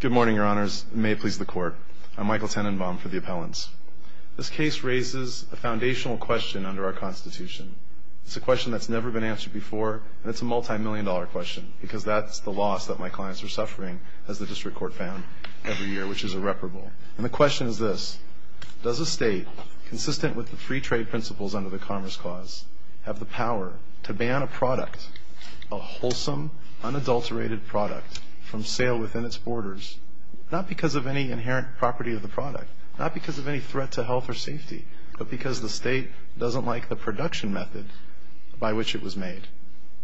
Good morning, Your Honors. May it please the Court. I'm Michael Tenenbaum for the Appellants. This case raises a foundational question under our Constitution. It's a question that's never been answered before, and it's a multi-million dollar question because that's the loss that my clients are suffering, as the District Court found, every year, which is irreparable. And the question is this. Does a state, consistent with the free trade principles under the Commerce Clause, have the power to ban a product, a wholesome, unadulterated product, from sale within its borders, not because of any inherent property of the product, not because of any threat to health or safety, but because the state doesn't like the production method by which it was made?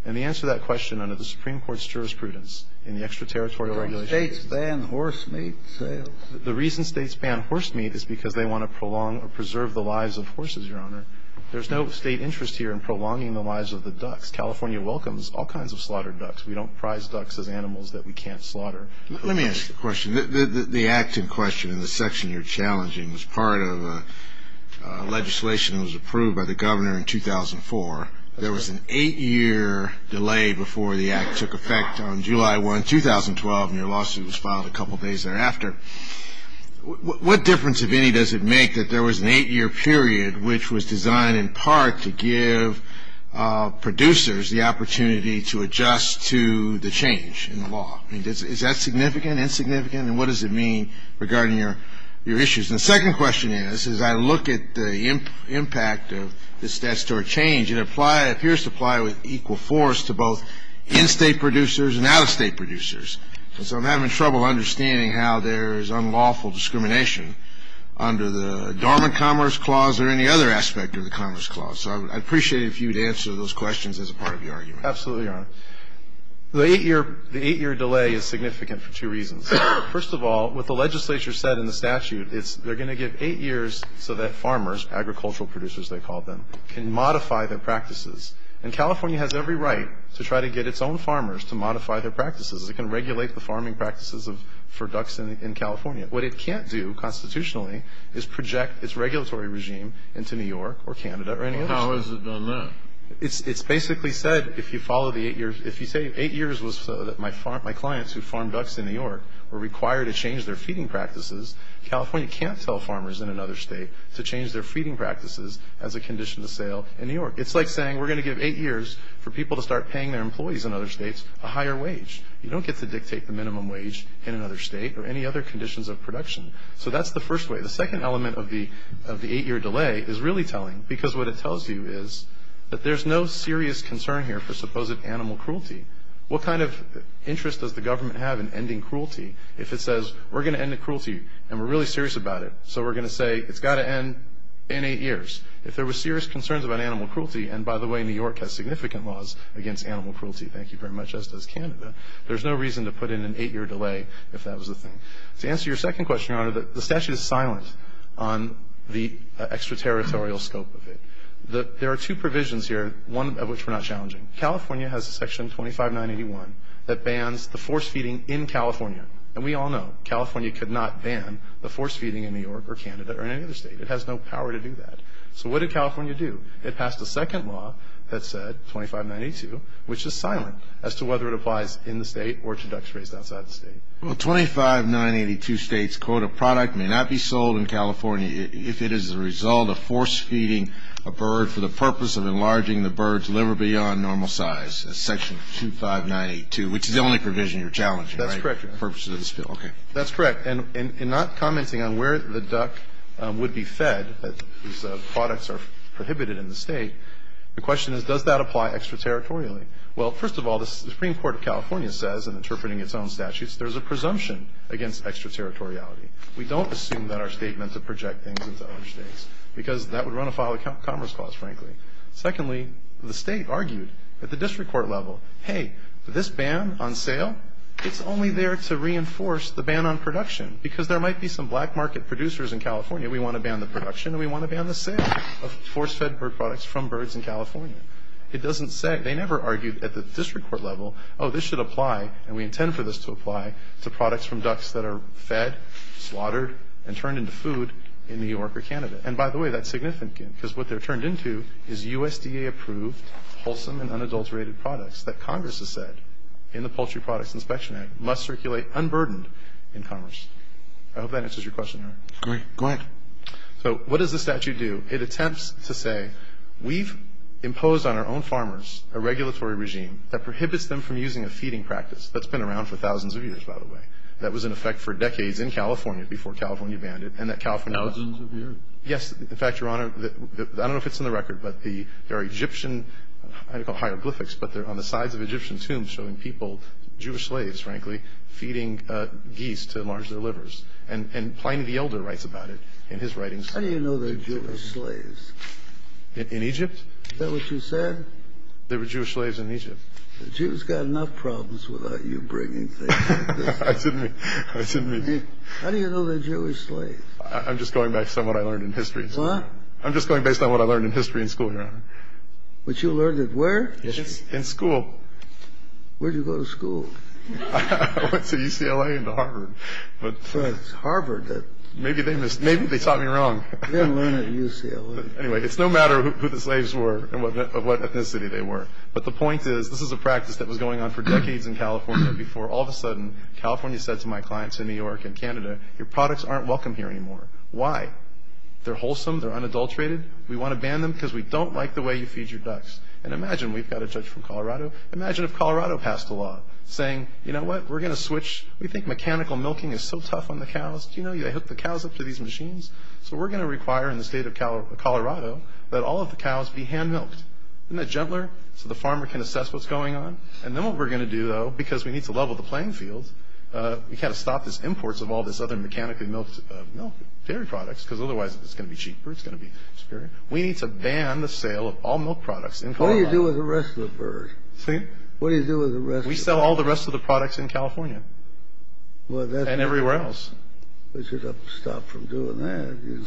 And the answer to that question, under the Supreme Court's jurisprudence, in the Extra-Territorial Regulations Do states ban horse meat sales? The reason states ban horse meat is because they want to prolong or preserve the lives of horses, Your Honor. There's no state interest here in prolonging the lives of the ducks. California welcomes all kinds of slaughtered ducks. We don't prize ducks as animals that we can't slaughter. Let me ask you a question. The act in question, in the section you're challenging, was part of legislation that was approved by the Governor in 2004. There was an eight-year delay before the act took effect on July 1, 2012, and your lawsuit was filed a couple days thereafter. What difference, if any, does it make that there was an eight-year period which was designed in part to give producers the opportunity to adjust to the change in the law? I mean, is that significant, insignificant? And what does it mean regarding your issues? And the second question is, as I look at the impact of this statutory change, it appears to apply with equal force to both in-state producers and out-of-state producers. And so I'm having trouble understanding how there is unlawful discrimination under the Dormant Commerce Clause or any other aspect of the Commerce Clause. So I'd appreciate it if you would answer those questions as a part of your argument. Absolutely, Your Honor. The eight-year delay is significant for two reasons. First of all, what the legislature said in the statute, they're going to give eight years so that farmers, agricultural producers they call them, can modify their practices. And California has every right to try to get its own farmers to modify their practices. It can regulate the farming practices for ducks in California. What it can't do constitutionally is project its regulatory regime into New York or Canada or any other state. How has it done that? It's basically said if you follow the eight years, if you say eight years was so that my clients who farmed ducks in New York were required to change their feeding practices, California can't tell farmers in another state to change their feeding practices as a condition of sale in New York. It's like saying we're going to give eight years for people to start paying their employees in other states a higher wage. You don't get to dictate the minimum wage in another state or any other conditions of production. So that's the first way. The second element of the eight-year delay is really telling because what it tells you is that there's no serious concern here for supposed animal cruelty. What kind of interest does the government have in ending cruelty if it says we're going to end the cruelty and we're really serious about it, so we're going to say it's got to end in eight years. If there were serious concerns about animal cruelty, and by the way, New York has significant laws against animal cruelty, thank you very much, just as Canada, there's no reason to put in an eight-year delay if that was the thing. To answer your second question, Your Honor, the statute is silent on the extraterritorial scope of it. There are two provisions here, one of which we're not challenging. California has a section 25981 that bans the force feeding in California, and we all know California could not ban the force feeding in New York or Canada or any other state. It has no power to do that. So what did California do? It passed a second law that said, 25982, which is silent as to whether it applies in the state or to ducks raised outside the state. Well, 25982 states, quote, a product may not be sold in California if it is the result of force feeding a bird for the purpose of enlarging the bird's liver beyond normal size, section 25982, which is the only provision you're challenging, right? That's correct, Your Honor. Okay. That's correct. And in not commenting on where the duck would be fed, that these products are prohibited in the state, the question is, does that apply extraterritorially? Well, first of all, the Supreme Court of California says, in interpreting its own statutes, there's a presumption against extraterritoriality. We don't assume that our state meant to project things into other states because that would run afoul of Commerce Clause, frankly. Secondly, the state argued at the district court level, hey, this ban on sale, it's only there to reinforce the ban on production because there might be some black market producers in California. We want to ban the production and we want to ban the sale of force-fed bird products from birds in California. It doesn't say. They never argued at the district court level, oh, this should apply, and we intend for this to apply to products from ducks that are fed, slaughtered, and turned into food in New York or Canada. And by the way, that's significant because what they're turned into is USDA-approved, wholesome, and unadulterated products that Congress has said in the Poultry Products Inspection Act must circulate unburdened in commerce. I hope that answers your question, Your Honor. Go ahead. So what does the statute do? It attempts to say we've imposed on our own farmers a regulatory regime that prohibits them from using a feeding practice. That's been around for thousands of years, by the way. That was in effect for decades in California, before California banned it, and that California wasn't. Thousands of years. In fact, Your Honor, I don't know if it's in the record, but there are Egyptian hieroglyphics on the sides of Egyptian tombs showing people, Jewish slaves, frankly, feeding geese to enlarge their livers. And Pliny the Elder writes about it in his writings. How do you know they're Jewish slaves? In Egypt? Is that what you said? They were Jewish slaves in Egypt. The Jews got enough problems without you bringing things like this up. I didn't mean to. How do you know they're Jewish slaves? I'm just going based on what I learned in history. What? I'm just going based on what I learned in history in school, Your Honor. But you learned it where? In school. Where did you go to school? I went to UCLA and to Harvard. But Harvard. Maybe they taught me wrong. You didn't learn it at UCLA. Anyway, it's no matter who the slaves were and what ethnicity they were. But the point is, this is a practice that was going on for decades in California before all of a sudden California said to my clients in New York and Canada, your products aren't welcome here anymore. Why? They're wholesome. They're unadulterated. We want to ban them because we don't like the way you feed your ducks. And imagine we've got a judge from Colorado. Imagine if Colorado passed a law saying, you know what, we're going to switch. We think mechanical milking is so tough on the cows. Do you know they hook the cows up to these machines? So we're going to require in the state of Colorado that all of the cows be hand-milked. Isn't that gentler so the farmer can assess what's going on? And then what we're going to do, though, because we need to level the playing field, is we've got to stop these imports of all these other mechanical milk dairy products because otherwise it's going to be cheaper, it's going to be superior. We need to ban the sale of all milk products in Colorado. What do you do with the rest of the bird? We sell all the rest of the products in California and everywhere else. We should stop from doing that. You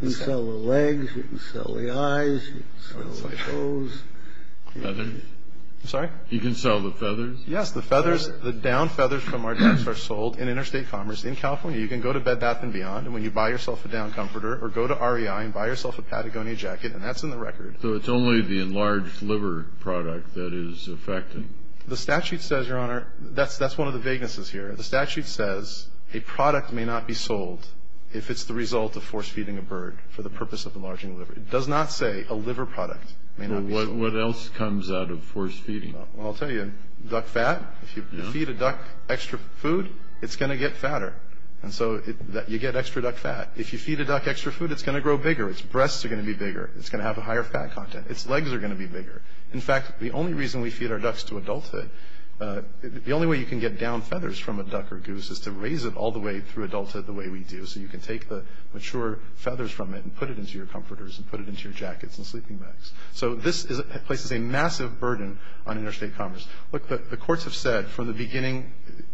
can sell the legs, you can sell the eyes, you can sell the toes. Feathers? I'm sorry? You can sell the feathers? Yes, the feathers, the down feathers from our ducks are sold in interstate commerce in California. You can go to Bed Bath & Beyond, and when you buy yourself a down comforter, or go to REI and buy yourself a Patagonia jacket, and that's in the record. So it's only the enlarged liver product that is effective? The statute says, Your Honor, that's one of the vaguenesses here. The statute says a product may not be sold if it's the result of force-feeding a bird for the purpose of enlarging the liver. It does not say a liver product may not be sold. Well, what else comes out of force-feeding? Well, I'll tell you. Duck fat? If you feed a duck extra food, it's going to get fatter. And so you get extra duck fat. If you feed a duck extra food, it's going to grow bigger. Its breasts are going to be bigger. It's going to have a higher fat content. Its legs are going to be bigger. In fact, the only reason we feed our ducks to adulthood, the only way you can get down feathers from a duck or goose is to raise it all the way through adulthood the way we do. So you can take the mature feathers from it and put it into your comforters and put it into your jackets and sleeping bags. So this places a massive burden on interstate commerce. Look, the courts have said from the beginning,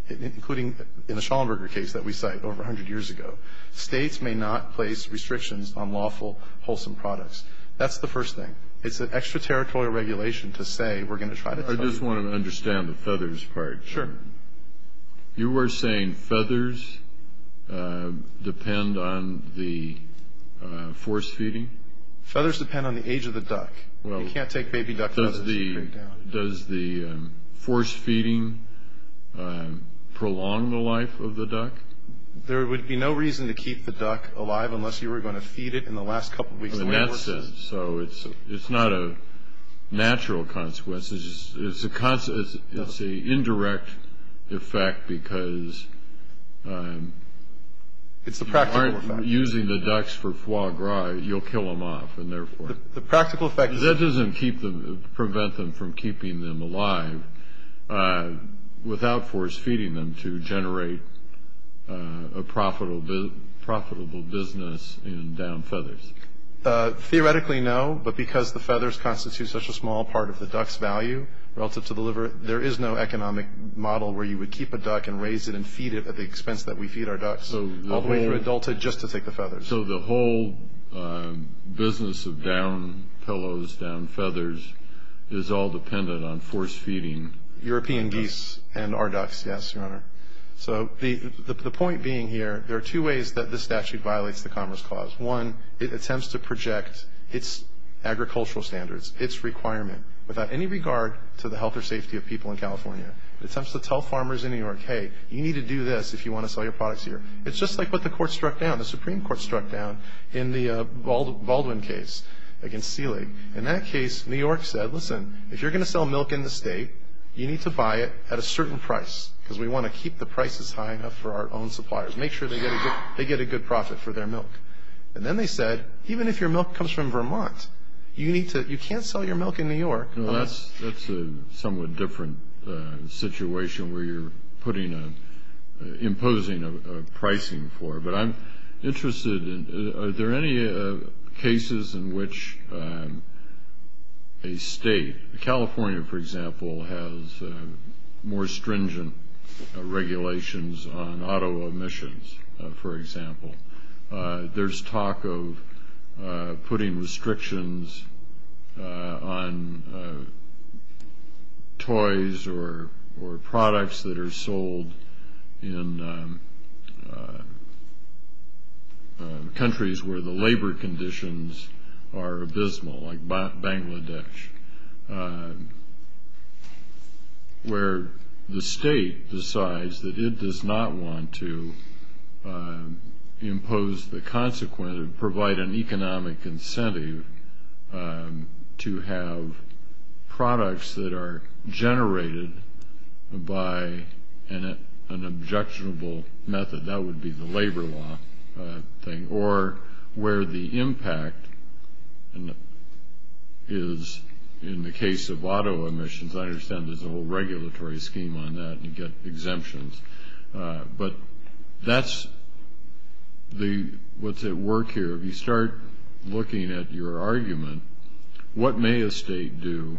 including in the Schallenberger case that we cite over 100 years ago, states may not place restrictions on lawful, wholesome products. That's the first thing. It's an extraterritorial regulation to say we're going to try to tell you. I just want to understand the feathers part. Sure. You were saying feathers depend on the force-feeding? Feathers depend on the age of the duck. You can't take baby duck feathers and bring them down. Does the force-feeding prolong the life of the duck? There would be no reason to keep the duck alive unless you were going to feed it in the last couple of weeks. In that sense. So it's not a natural consequence. It's an indirect effect because you aren't using the ducks for foie gras. You'll kill them off, and therefore. The practical effect. That doesn't prevent them from keeping them alive without force-feeding them to generate a profitable business in down feathers. Theoretically, no. But because the feathers constitute such a small part of the duck's value relative to the liver, there is no economic model where you would keep a duck and raise it and feed it at the expense that we feed our ducks, all the way through adulthood, just to take the feathers. So the whole business of down pillows, down feathers, is all dependent on force-feeding. European geese and our ducks, yes, Your Honor. So the point being here, there are two ways that this statute violates the Commerce Clause. One, it attempts to project its agricultural standards, its requirement, without any regard to the health or safety of people in California. It attempts to tell farmers in New York, hey, you need to do this if you want to sell your products here. It's just like what the Supreme Court struck down in the Baldwin case against Seeley. In that case, New York said, listen, if you're going to sell milk in the state, you need to buy it at a certain price because we want to keep the prices high enough for our own suppliers. Make sure they get a good profit for their milk. And then they said, even if your milk comes from Vermont, you can't sell your milk in New York. Well, that's a somewhat different situation where you're putting a – imposing a pricing for it. But I'm interested in are there any cases in which a state – California, for example, has more stringent regulations on auto emissions, for example. There's talk of putting restrictions on toys or products that are sold in countries where the labor conditions are abysmal, like Bangladesh, where the state decides that it does not want to impose the consequence and provide an economic incentive to have products that are generated by an objectionable method. That would be the labor law thing. Or where the impact is, in the case of auto emissions, I understand there's a whole regulatory scheme on that and you get exemptions. But that's the – what's at work here. If you start looking at your argument, what may a state do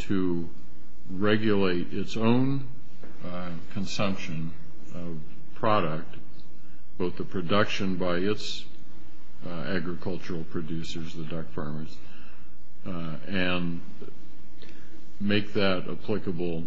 to regulate its own consumption of product, both the production by its agricultural producers, the duck farmers, and make that applicable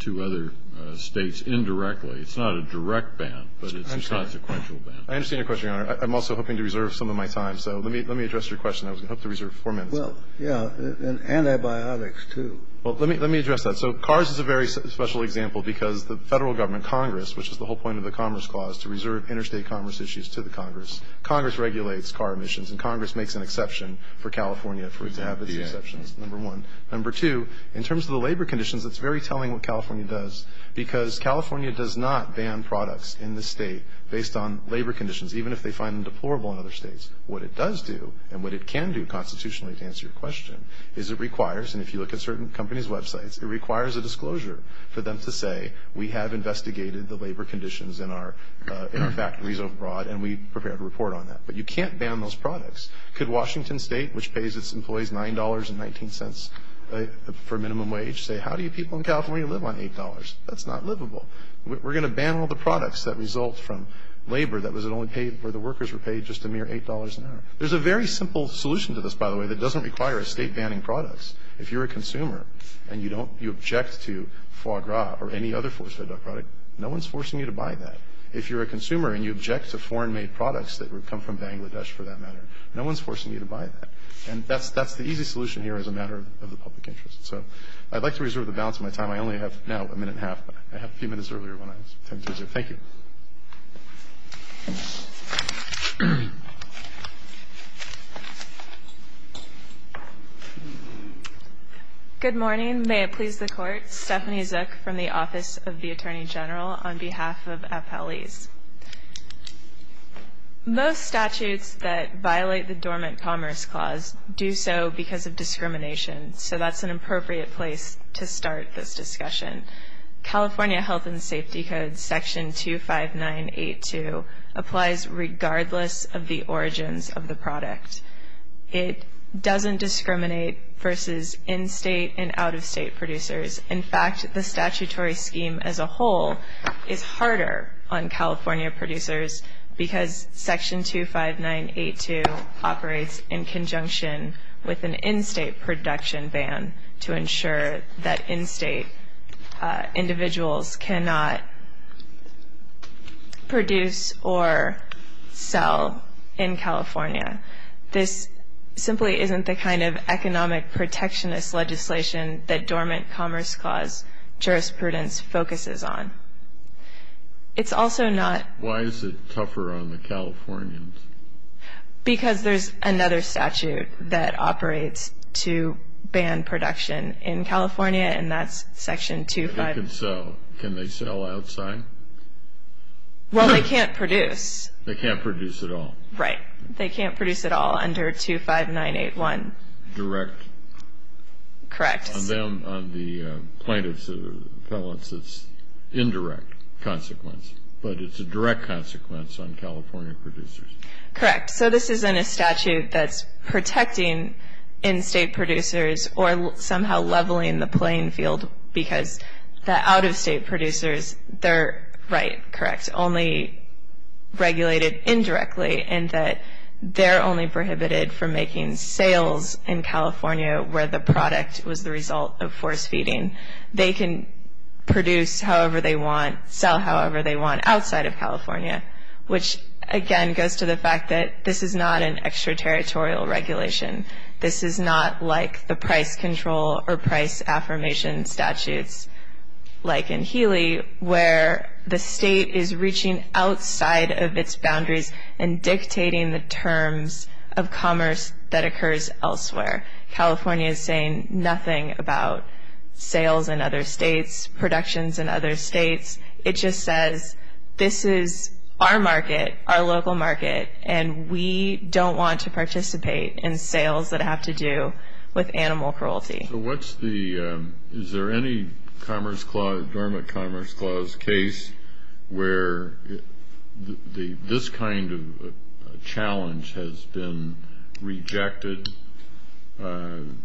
to other states indirectly? It's not a direct ban, but it's a consequential ban. I understand your question, Your Honor. I'm also hoping to reserve some of my time, so let me address your question. I was going to hope to reserve four minutes. Well, yeah. And antibiotics, too. Well, let me address that. So cars is a very special example because the Federal Government, Congress, which is the whole point of the Commerce Clause, to reserve interstate commerce issues to the Congress. Congress regulates car emissions, and Congress makes an exception for California for it to have its exceptions, number one. Number two, in terms of the labor conditions, it's very telling what California does, because California does not ban products in the state based on labor conditions, even if they find them deplorable in other states. What it does do, and what it can do constitutionally, to answer your question, is it requires – and if you look at certain companies' websites, it requires a disclosure for them to say, we have investigated the labor conditions in our factories abroad, and we prepared a report on that. But you can't ban those products. Could Washington State, which pays its employees $9.19 for minimum wage, say, how do you people in California live on $8? That's not livable. We're going to ban all the products that result from labor that was only paid – where the workers were paid just a mere $8 an hour. There's a very simple solution to this, by the way, that doesn't require a state banning products. If you're a consumer and you don't – you object to foie gras or any other force-fed product, no one's forcing you to buy that. If you're a consumer and you object to foreign-made products that come from Bangladesh, for that matter, no one's forcing you to buy that. And that's the easy solution here as a matter of the public interest. So I'd like to reserve the balance of my time. I only have now a minute and a half, but I had a few minutes earlier when I was attempting to reserve. Thank you. Good morning. May it please the Court. Stephanie Zook from the Office of the Attorney General on behalf of Appellees. Most statutes that violate the Dormant Commerce Clause do so because of discrimination. So that's an appropriate place to start this discussion. California Health and Safety Code, Section 25982, applies regardless of the origins of the product. It doesn't discriminate versus in-state and out-of-state producers. In fact, the statutory scheme as a whole is harder on California producers because Section 25982 operates in conjunction with an in-state production ban to ensure that in-state individuals cannot produce or sell in California. This simply isn't the kind of economic protectionist legislation that Dormant Commerce Clause jurisprudence focuses on. It's also not. Why is it tougher on the Californians? Because there's another statute that operates to ban production in California, and that's Section 25. They can sell. Can they sell outside? Well, they can't produce. They can't produce at all. Right. They can't produce at all under 25981. Direct. Correct. On them, on the plaintiffs, the appellants, it's indirect consequence, but it's a direct consequence on California producers. Correct. So this isn't a statute that's protecting in-state producers or somehow leveling the playing field because the out-of-state producers, they're right, correct, only regulated indirectly, and that they're only prohibited from making sales in California where the product was the result of force feeding. They can produce however they want, sell however they want outside of California, which, again, goes to the fact that this is not an extraterritorial regulation. This is not like the price control or price affirmation statutes like in Healy where the state is reaching outside of its boundaries and dictating the terms of commerce that occurs elsewhere. California is saying nothing about sales in other states, productions in other states. It just says this is our market, our local market, and we don't want to participate in sales that have to do with animal cruelty. So is there any Dormant Commerce Clause case where this kind of challenge has been rejected? In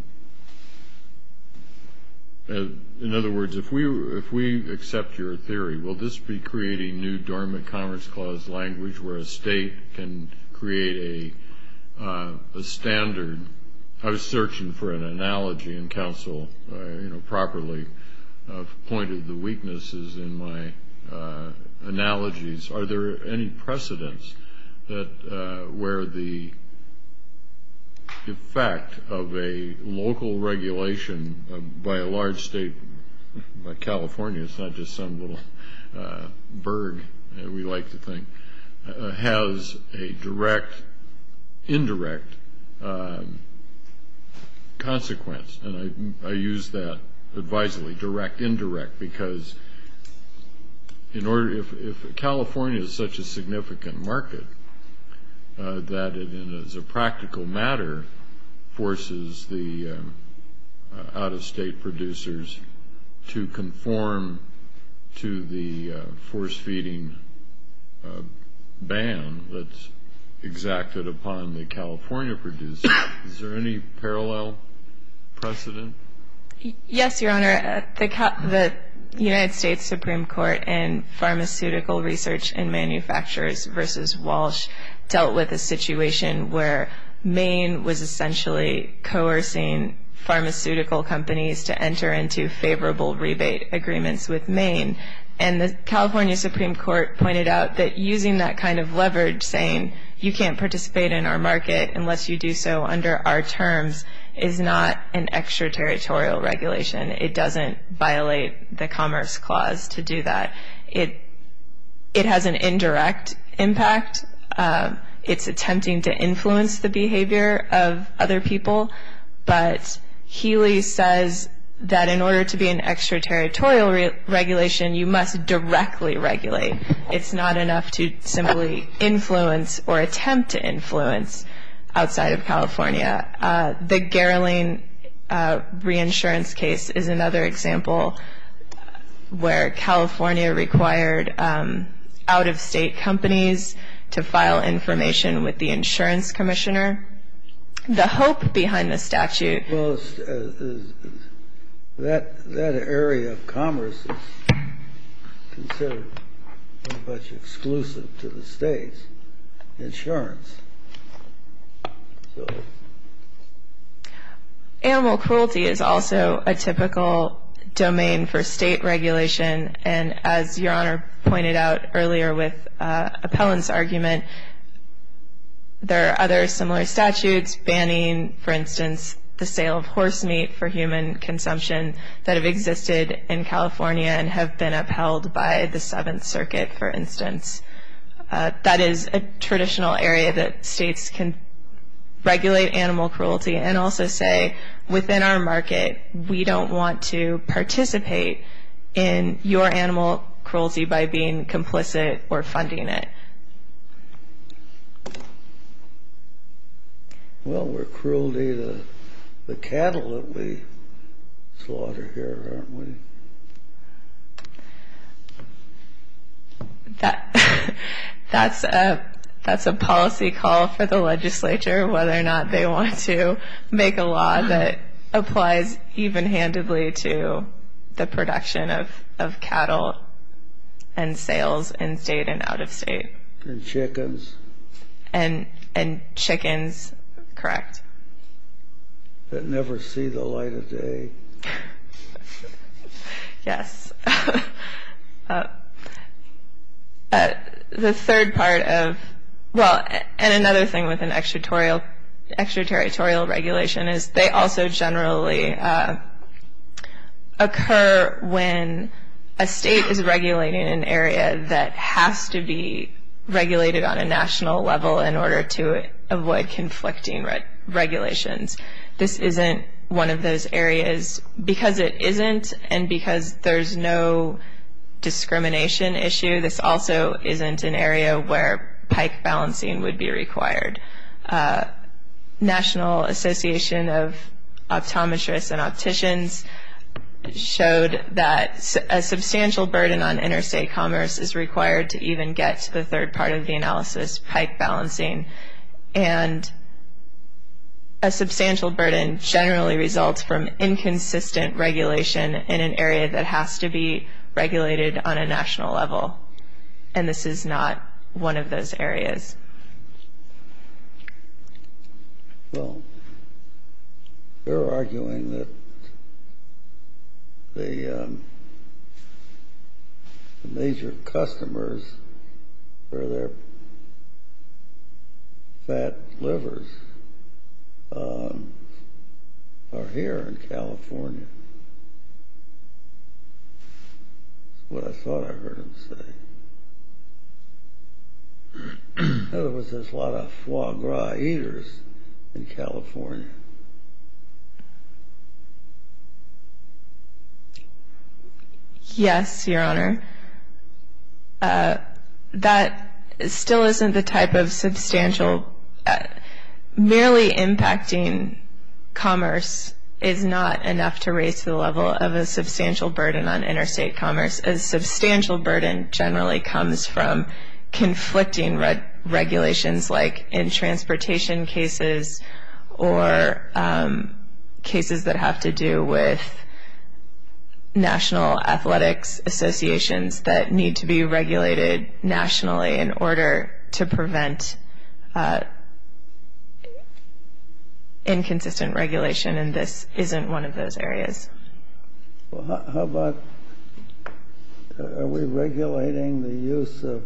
other words, if we accept your theory, will this be creating new Dormant Commerce Clause language where a state can create a standard? I was searching for an analogy, and counsel properly pointed the weaknesses in my analogies. Are there any precedents where the effect of a local regulation by a large state like California, it's not just some little burg we like to think, has a direct, indirect consequence? And I use that advisedly, direct, indirect, because if California is such a significant market that it, as a practical matter, forces the out-of-state producers to conform to the force-feeding ban that's exacted upon the California producers, is there any parallel precedent? Yes, Your Honor. The United States Supreme Court in Pharmaceutical Research and Manufacturers v. Walsh dealt with a situation where Maine was essentially coercing pharmaceutical companies to enter into favorable rebate agreements with Maine. And the California Supreme Court pointed out that using that kind of leverage, saying you can't participate in our market unless you do so under our terms, is not an extraterritorial regulation. It doesn't violate the Commerce Clause to do that. It has an indirect impact. It's attempting to influence the behavior of other people. But Healy says that in order to be an extraterritorial regulation, you must directly regulate. It's not enough to simply influence or attempt to influence outside of California. The Garrelin reinsurance case is another example where California required out-of-state companies to file information with the insurance commissioner. The hope behind the statute is that that area of commerce is considered much exclusive to the state's insurance. Animal cruelty is also a typical domain for state regulation. And as Your Honor pointed out earlier with Appellant's argument, there are other similar statutes banning, for instance, the sale of horse meat for human consumption that have existed in California and have been upheld by the Seventh Circuit, for instance. That is a traditional area that states can regulate animal cruelty and also say, Well, we're cruelty to the cattle that we slaughter here, aren't we? That's a policy call for the legislature whether or not they want to make a law that applies even-handedly to the production of cattle and sales in state and out-of-state. And chickens. And chickens, correct. That never see the light of day. Yes. The third part of, well, and another thing with an extraterritorial regulation is they also generally occur when a state is regulating an area that has to be regulated on a national level in order to avoid conflicting regulations. This isn't one of those areas. Because it isn't and because there's no discrimination issue, this also isn't an area where pike balancing would be required. National Association of Optometrists and Opticians showed that a substantial burden on interstate commerce is required to even get to the third part of the analysis, pike balancing. And a substantial burden generally results from inconsistent regulation in an area that has to be regulated on a national level. And this is not one of those areas. Well, they're arguing that the major customers for their fat livers are here in California. That's what I thought I heard him say. There was this lot of foie gras eaters in California. Yes, Your Honor. That still isn't the type of substantial, merely impacting commerce is not enough to raise the level of a substantial burden on interstate commerce. A substantial burden generally comes from conflicting regulations like in transportation cases or cases that have to do with national athletics associations that need to be regulated nationally in order to prevent inconsistent regulation. And this isn't one of those areas. Well, how about are we regulating the use of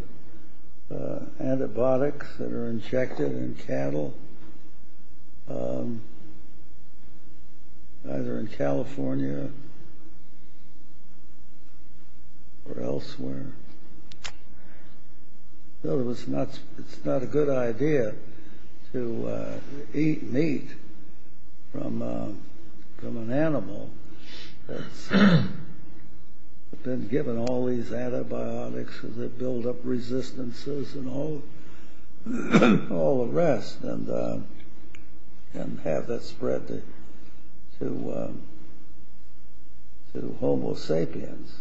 antibiotics that are injected in cattle either in California or elsewhere? Well, it's not a good idea to eat meat from an animal that's been given all these antibiotics that build up resistances and all the rest and have that spread to homo sapiens.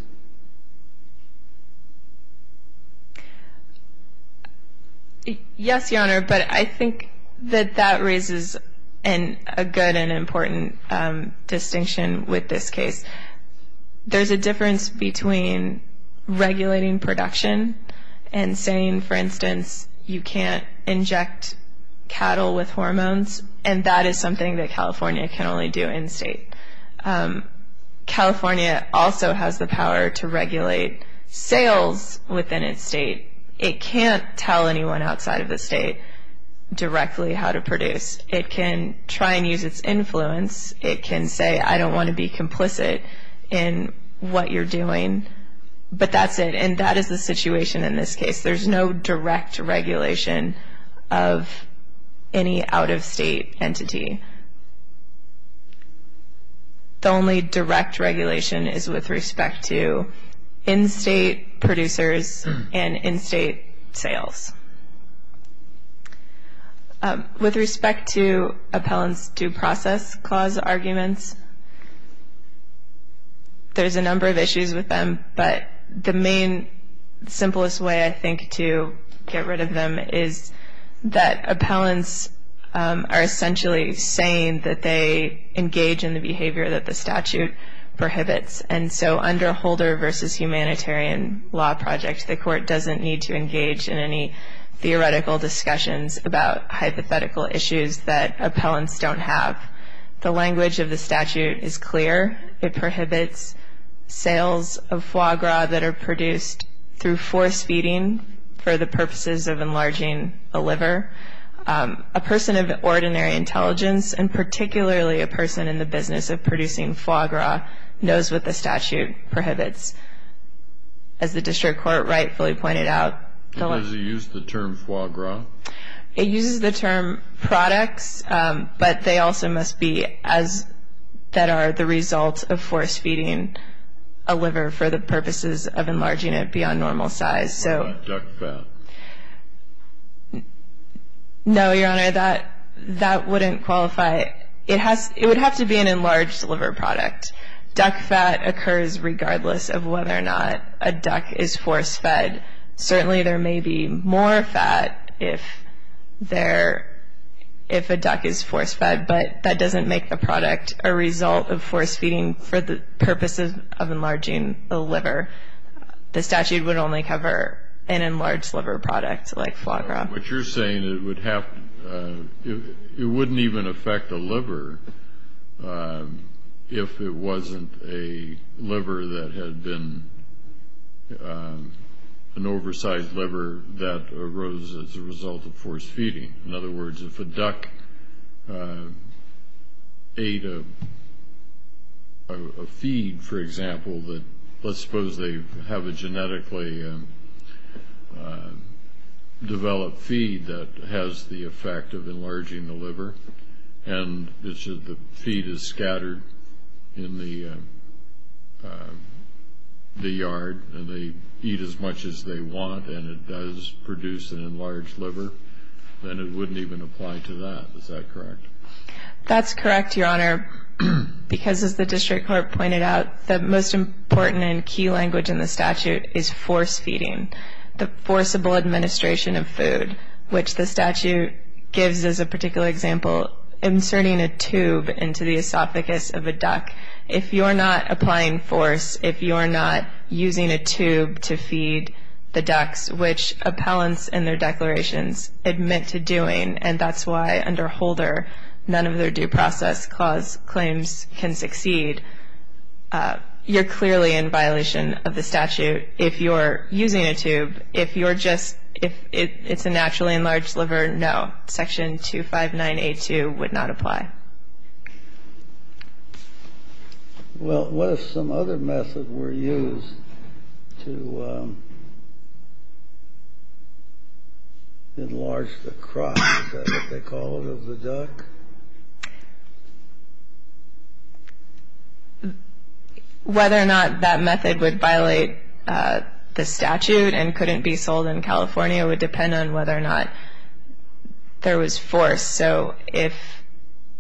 Yes, Your Honor, but I think that that raises a good and important distinction with this case. There's a difference between regulating production and saying, for instance, you can't inject cattle with hormones, and that is something that California can only do in-state. California also has the power to regulate sales within its state. It can't tell anyone outside of the state directly how to produce. It can try and use its influence. It can say, I don't want to be complicit in what you're doing, but that's it. And that is the situation in this case. There's no direct regulation of any out-of-state entity. The only direct regulation is with respect to in-state producers and in-state sales. With respect to appellant's due process clause arguments, there's a number of issues with them, but the main simplest way, I think, to get rid of them is that appellants are essentially saying that they engage in the behavior that the statute prohibits. And so under Holder v. Humanitarian Law Project, the court doesn't need to engage in any theoretical discussions about hypothetical issues that appellants don't have. The language of the statute is clear. It prohibits sales of foie gras that are produced through force feeding for the purposes of enlarging the liver. A person of ordinary intelligence, and particularly a person in the business of producing foie gras, knows what the statute prohibits. As the district court rightfully pointed out... Does it use the term foie gras? It uses the term products, but they also must be as... that are the result of force feeding a liver for the purposes of enlarging it beyond normal size. No, Your Honor, that wouldn't qualify. It would have to be an enlarged liver product. Duck fat occurs regardless of whether or not a duck is force fed. Certainly there may be more fat if a duck is force fed, but that doesn't make the product a result of force feeding for the purposes of enlarging the liver. The statute would only cover an enlarged liver product like foie gras. What you're saying, it would have to... It wouldn't even affect a liver if it wasn't a liver that had been... an oversized liver that arose as a result of force feeding. In other words, if a duck ate a feed, for example, let's suppose they have a genetically developed feed that has the effect of enlarging the liver and the feed is scattered in the yard and they eat as much as they want and it does produce an enlarged liver, then it wouldn't even apply to that. Is that correct? That's correct, Your Honor, because as the district court pointed out, the most important and key language in the statute is force feeding, the forcible administration of food, which the statute gives as a particular example, inserting a tube into the esophagus of a duck. If you're not applying force, if you're not using a tube to feed the ducks, which appellants in their declarations admit to doing, and that's why under Holder none of their due process clause claims can succeed, you're clearly in violation of the statute. If you're using a tube, if you're just... if it's a naturally enlarged liver, no, Section 259A2 would not apply. Well, what if some other method were used to enlarge the crop, is that what they call it, of the duck? Whether or not that method would violate the statute and couldn't be sold in California would depend on whether or not there was force. So if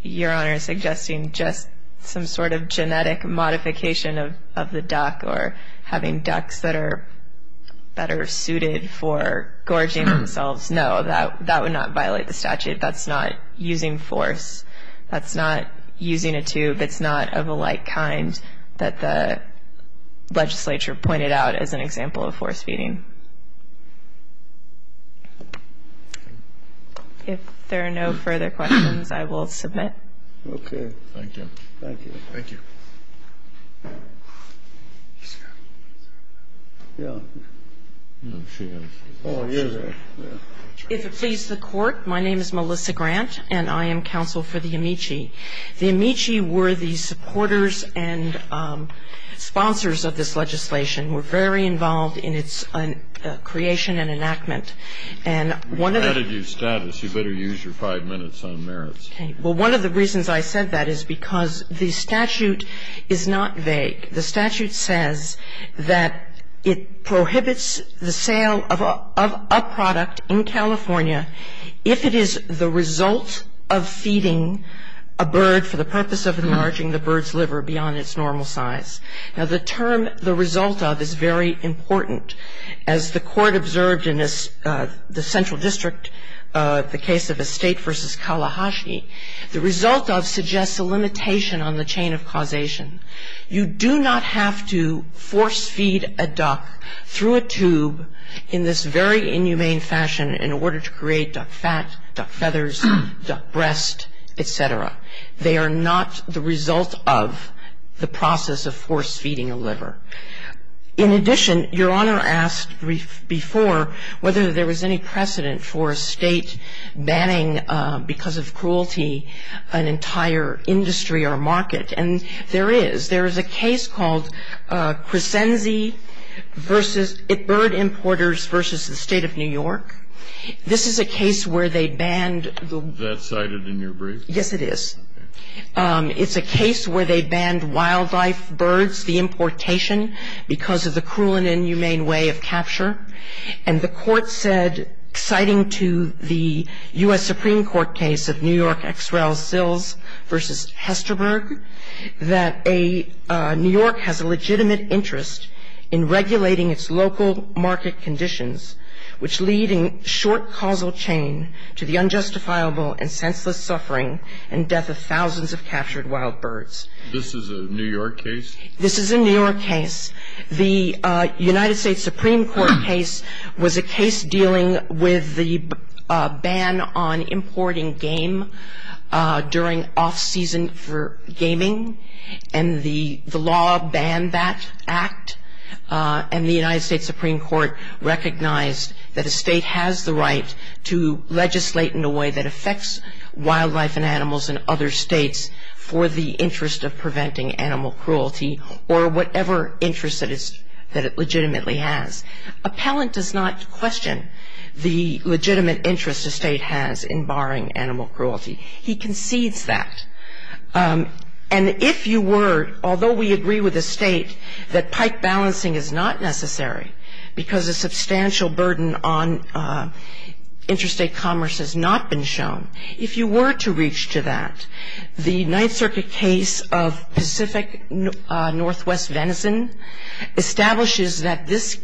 Your Honor is suggesting just some sort of genetic modification of the duck or having ducks that are suited for gorging themselves, no, that would not violate the statute. That's not using force. That's not using a tube. It's not of a like kind that the legislature pointed out as an example of force feeding. If there are no further questions, I will submit. Okay. Thank you. Thank you. Thank you. If it pleases the Court, my name is Melissa Grant, and I am counsel for the Amici. The Amici were the supporters and sponsors of this legislation, were very involved in its creation and enactment. And one of the --- We've added you status. You better use your five minutes on merits. Okay. Well, one of the reasons I said that is because the statute is not vague. The statute says that it prohibits the sale of a product in California if it is the result of feeding a bird for the purpose of enlarging the bird's liver beyond its normal size. Now, the term, the result of, is very important. As the Court observed in the central district, the case of Estate v. Kalahashi, the result of suggests a limitation on the chain of causation. You do not have to force feed a duck through a tube in this very inhumane fashion in order to create duck fat, duck feathers, duck breast, et cetera. They are not the result of the process of force feeding a liver. In addition, Your Honor asked before whether there was any precedent for a State banning, because of cruelty, an entire industry or market. And there is. There is a case called Crescenzi v. Bird Importers v. the State of New York. This is a case where they banned the- Is that cited in your brief? Yes, it is. It's a case where they banned wildlife birds, the importation, because of the cruel and inhumane way of capture. And the Court said, citing to the U.S. Supreme Court case of New York X-Rail Sills v. Hesterberg, that New York has a legitimate interest in regulating its local market conditions, which lead in short causal chain to the unjustifiable and senseless suffering and death of thousands of captured wild birds. This is a New York case? This is a New York case. The United States Supreme Court case was a case dealing with the ban on importing game during off-season for gaming, and the law banned that act. And the United States Supreme Court recognized that a state has the right to legislate in a way that affects wildlife and animals in other states for the interest of preventing animal cruelty or whatever interest that it legitimately has. Appellant does not question the legitimate interest a state has in barring animal cruelty. He concedes that. And if you were, although we agree with the state that pike balancing is not necessary because a substantial burden on interstate commerce has not been shown, if you were to reach to that, the Ninth Circuit case of Pacific Northwest Venison establishes that this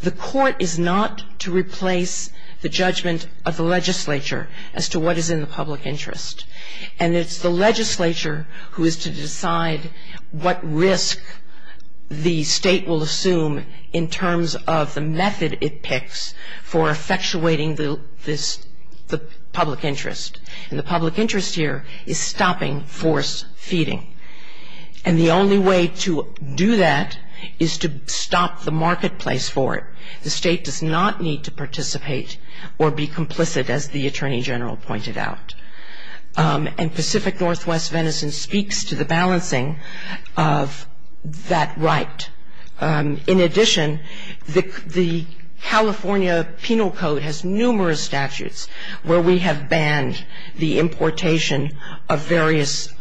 the Court is not to replace the judgment of the legislature as to what is in the public interest. And it's the legislature who is to decide what risk the state will assume in terms of the method it picks for effectuating the public interest. And the public interest here is stopping forced feeding. And the only way to do that is to stop the marketplace for it. The state does not need to participate or be complicit as the Attorney General pointed out. And Pacific Northwest Venison speaks to the balancing of that right. In addition, the California Penal Code has numerous statutes where we have banned the importation of various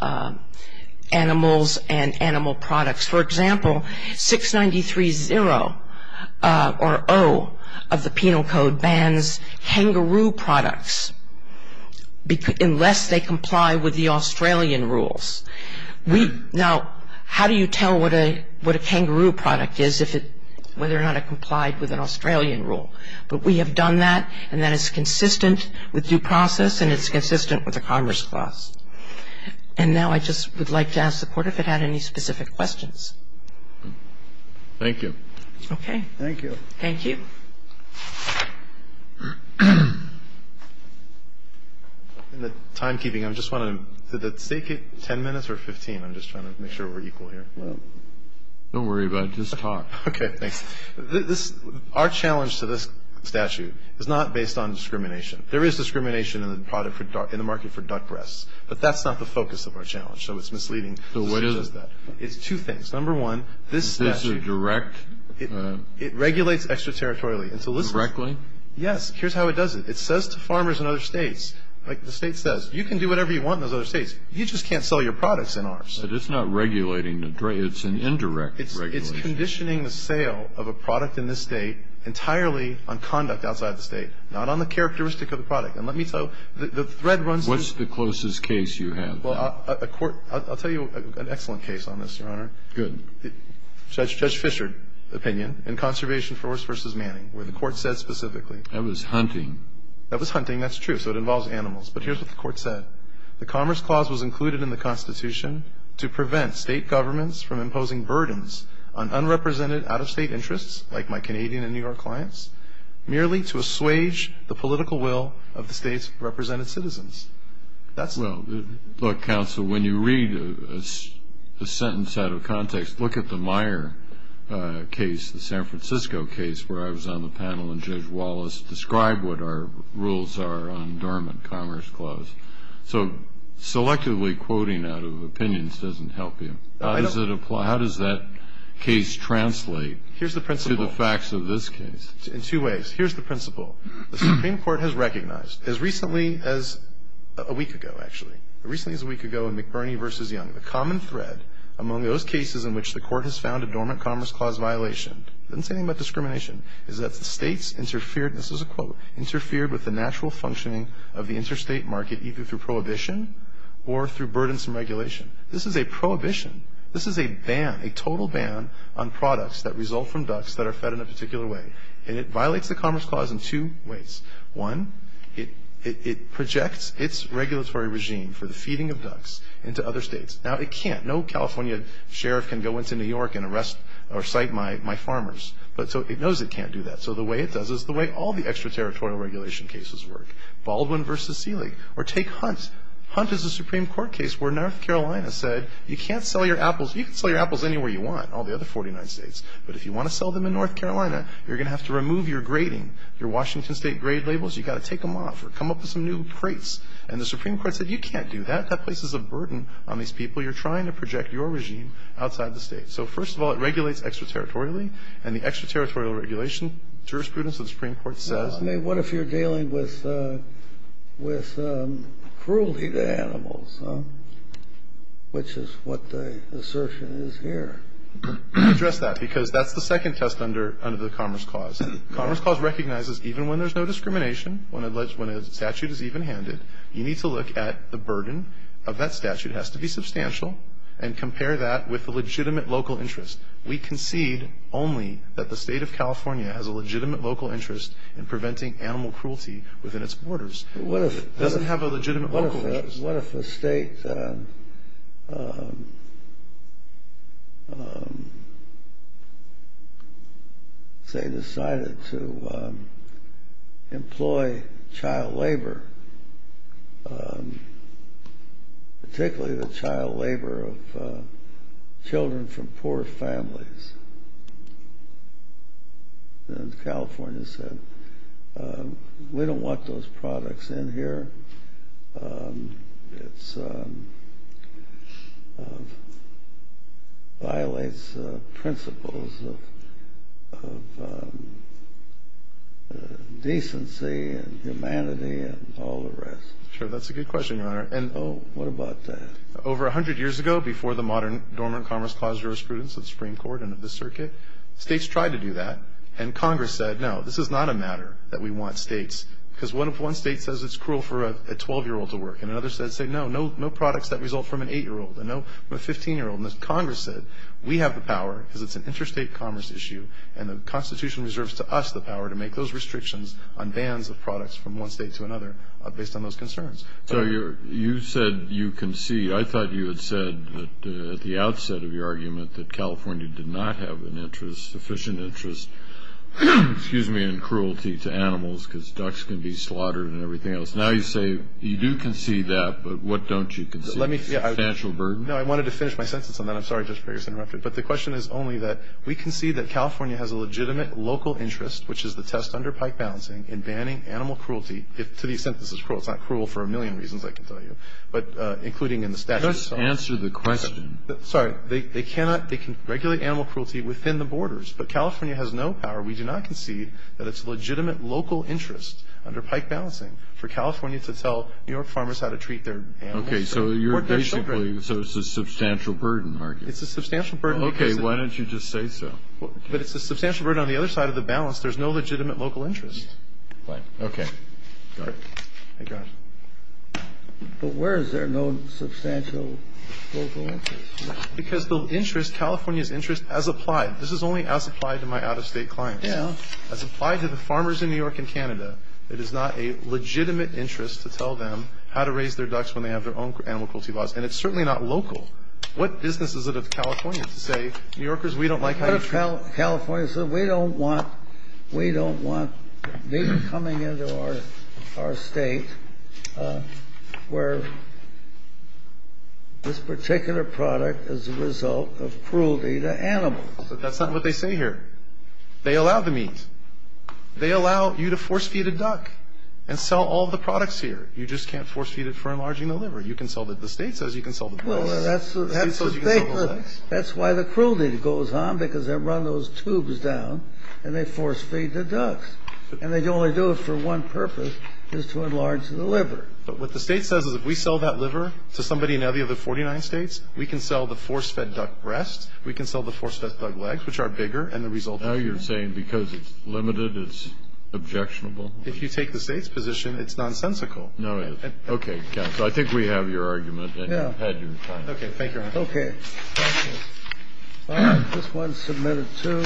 animals and animal products. For example, 693.0 or 0 of the Penal Code bans kangaroo products unless they comply with the Australian rules. Now, how do you tell what a kangaroo product is if it, whether or not it complied with an Australian rule? But we have done that, and that is consistent with due process, and it's consistent with the Commerce Clause. And now I just would like to ask the Court if it had any specific questions. Thank you. Okay. Thank you. Thank you. In the timekeeping, I just want to, did the State get 10 minutes or 15? I'm just trying to make sure we're equal here. Don't worry about it. Just talk. Okay. Thanks. Our challenge to this statute is not based on discrimination. There is discrimination in the market for duck breasts. But that's not the focus of our challenge, so it's misleading to suggest that. So what is it? It's two things. Number one, this statute. Is this a direct? It regulates extraterritorially. Directly? Yes. Here's how it does it. It says to farmers in other states, like the State says, you can do whatever you want in those other states. You just can't sell your products in ours. But it's not regulating. It's an indirect regulation. It's conditioning the sale of a product in this State entirely on conduct outside the State, not on the characteristic of the product. What's the closest case you have? Well, I'll tell you an excellent case on this, Your Honor. Good. Judge Fischer's opinion in Conservation Force v. Manning, where the Court said specifically. That was hunting. That was hunting. That's true. So it involves animals. But here's what the Court said. The Commerce Clause was included in the Constitution to prevent State governments from imposing burdens on unrepresented out-of-State interests, like my Canadian and New York clients, merely to assuage the political will of the State's represented citizens. Well, look, Counsel, when you read a sentence out of context, look at the Meyer case, the San Francisco case where I was on the panel, and Judge Wallace described what our rules are on Dormant Commerce Clause. So selectively quoting out of opinions doesn't help you. How does that case translate to the facts of this case? In two ways. Here's the principle. The Supreme Court has recognized, as recently as a week ago, actually, as recently as a week ago in McBurney v. Young, the common thread among those cases in which the Court has found a Dormant Commerce Clause violation, it doesn't say anything about discrimination, is that the States interfered, this is a quote, interfered with the natural functioning of the interstate market, either through prohibition or through burdensome regulation. This is a prohibition. This is a ban, a total ban on products that result from ducks that are fed in a particular way. And it violates the Commerce Clause in two ways. One, it projects its regulatory regime for the feeding of ducks into other states. Now, it can't. No California sheriff can go into New York and arrest or cite my farmers. So it knows it can't do that. So the way it does is the way all the extraterritorial regulation cases work. Baldwin v. Seeley. Or take Hunt. Hunt is a Supreme Court case where North Carolina said you can't sell your apples, you can sell your apples anywhere you want, all the other 49 states, but if you want to sell them in North Carolina, you're going to have to remove your grading. Your Washington State grade labels, you've got to take them off or come up with some new crates. And the Supreme Court said you can't do that. That places a burden on these people you're trying to project your regime outside the state. So, first of all, it regulates extraterritorially, and the extraterritorial regulation jurisprudence of the Supreme Court says. What if you're dealing with cruelty to animals, which is what the assertion is here? Address that, because that's the second test under the Commerce Clause. Commerce Clause recognizes even when there's no discrimination, when a statute is even-handed, you need to look at the burden of that statute has to be substantial and compare that with the legitimate local interest. We concede only that the state of California has a legitimate local interest in preventing animal cruelty within its borders. It doesn't have a legitimate local interest. What if a state, say, decided to employ child labor, particularly the child labor of children from poor families? Then California said, we don't want those products in here. It violates principles of decency and humanity and all the rest. Sure, that's a good question, Your Honor. What about that? Over 100 years ago, before the modern dormant Commerce Clause jurisprudence of the Supreme Court and of the circuit, states tried to do that, and Congress said, no, this is not a matter that we want states, because one state says it's cruel for a 12-year-old to work, and another says, no, no products that result from an 8-year-old and no from a 15-year-old. Congress said, we have the power because it's an interstate commerce issue, and the Constitution reserves to us the power to make those restrictions on bans of products from one state to another based on those concerns. So you said you concede. I thought you had said at the outset of your argument that California did not have an interest, sufficient interest, excuse me, in cruelty to animals because ducks can be slaughtered and everything else. Now you say you do concede that, but what don't you concede? Financial burden? No, I wanted to finish my sentence on that. I'm sorry, Justice Breyer, for interrupting. But the question is only that we concede that California has a legitimate local interest, which is the test under Pike balancing, in banning animal cruelty to these sentences. It's not cruel for a million reasons, I can tell you, but including in the statute itself. Just answer the question. Sorry. They cannot, they can regulate animal cruelty within the borders. But California has no power. We do not concede that it's a legitimate local interest under Pike balancing for California to tell New York farmers how to treat their animals. Okay. So you're basically, so it's a substantial burden, are you? It's a substantial burden. Okay. Why don't you just say so? But it's a substantial burden. On the other side of the balance, there's no legitimate local interest. Right. Okay. Sorry. My gosh. But where is there no substantial local interest? Because the interest, California's interest, as applied, this is only as applied to my out-of-state clients. Yeah. As applied to the farmers in New York and Canada, it is not a legitimate interest to tell them how to raise their ducks when they have their own animal cruelty laws. And it's certainly not local. What business is it of California to say, New Yorkers, we don't like how you treat your ducks? California said, we don't want meat coming into our state where this particular product is a result of cruelty to animals. But that's not what they say here. They allow the meat. They allow you to force-feed a duck and sell all the products here. You just can't force-feed it for enlarging the liver. You can sell the states as you can sell the place. That's why the cruelty goes on, because they run those tubes down, and they force-feed the ducks. And they only do it for one purpose, is to enlarge the liver. But what the state says is, if we sell that liver to somebody in any of the 49 states, we can sell the force-fed duck breast, we can sell the force-fed duck legs, which are bigger, and the result is the same. Now you're saying because it's limited, it's objectionable? If you take the state's position, it's nonsensical. No, it isn't. Okay. Thank you, counsel. I think we have your argument, and you've had your time. Okay. Thank you very much. Okay. All right. This one's submitted, too.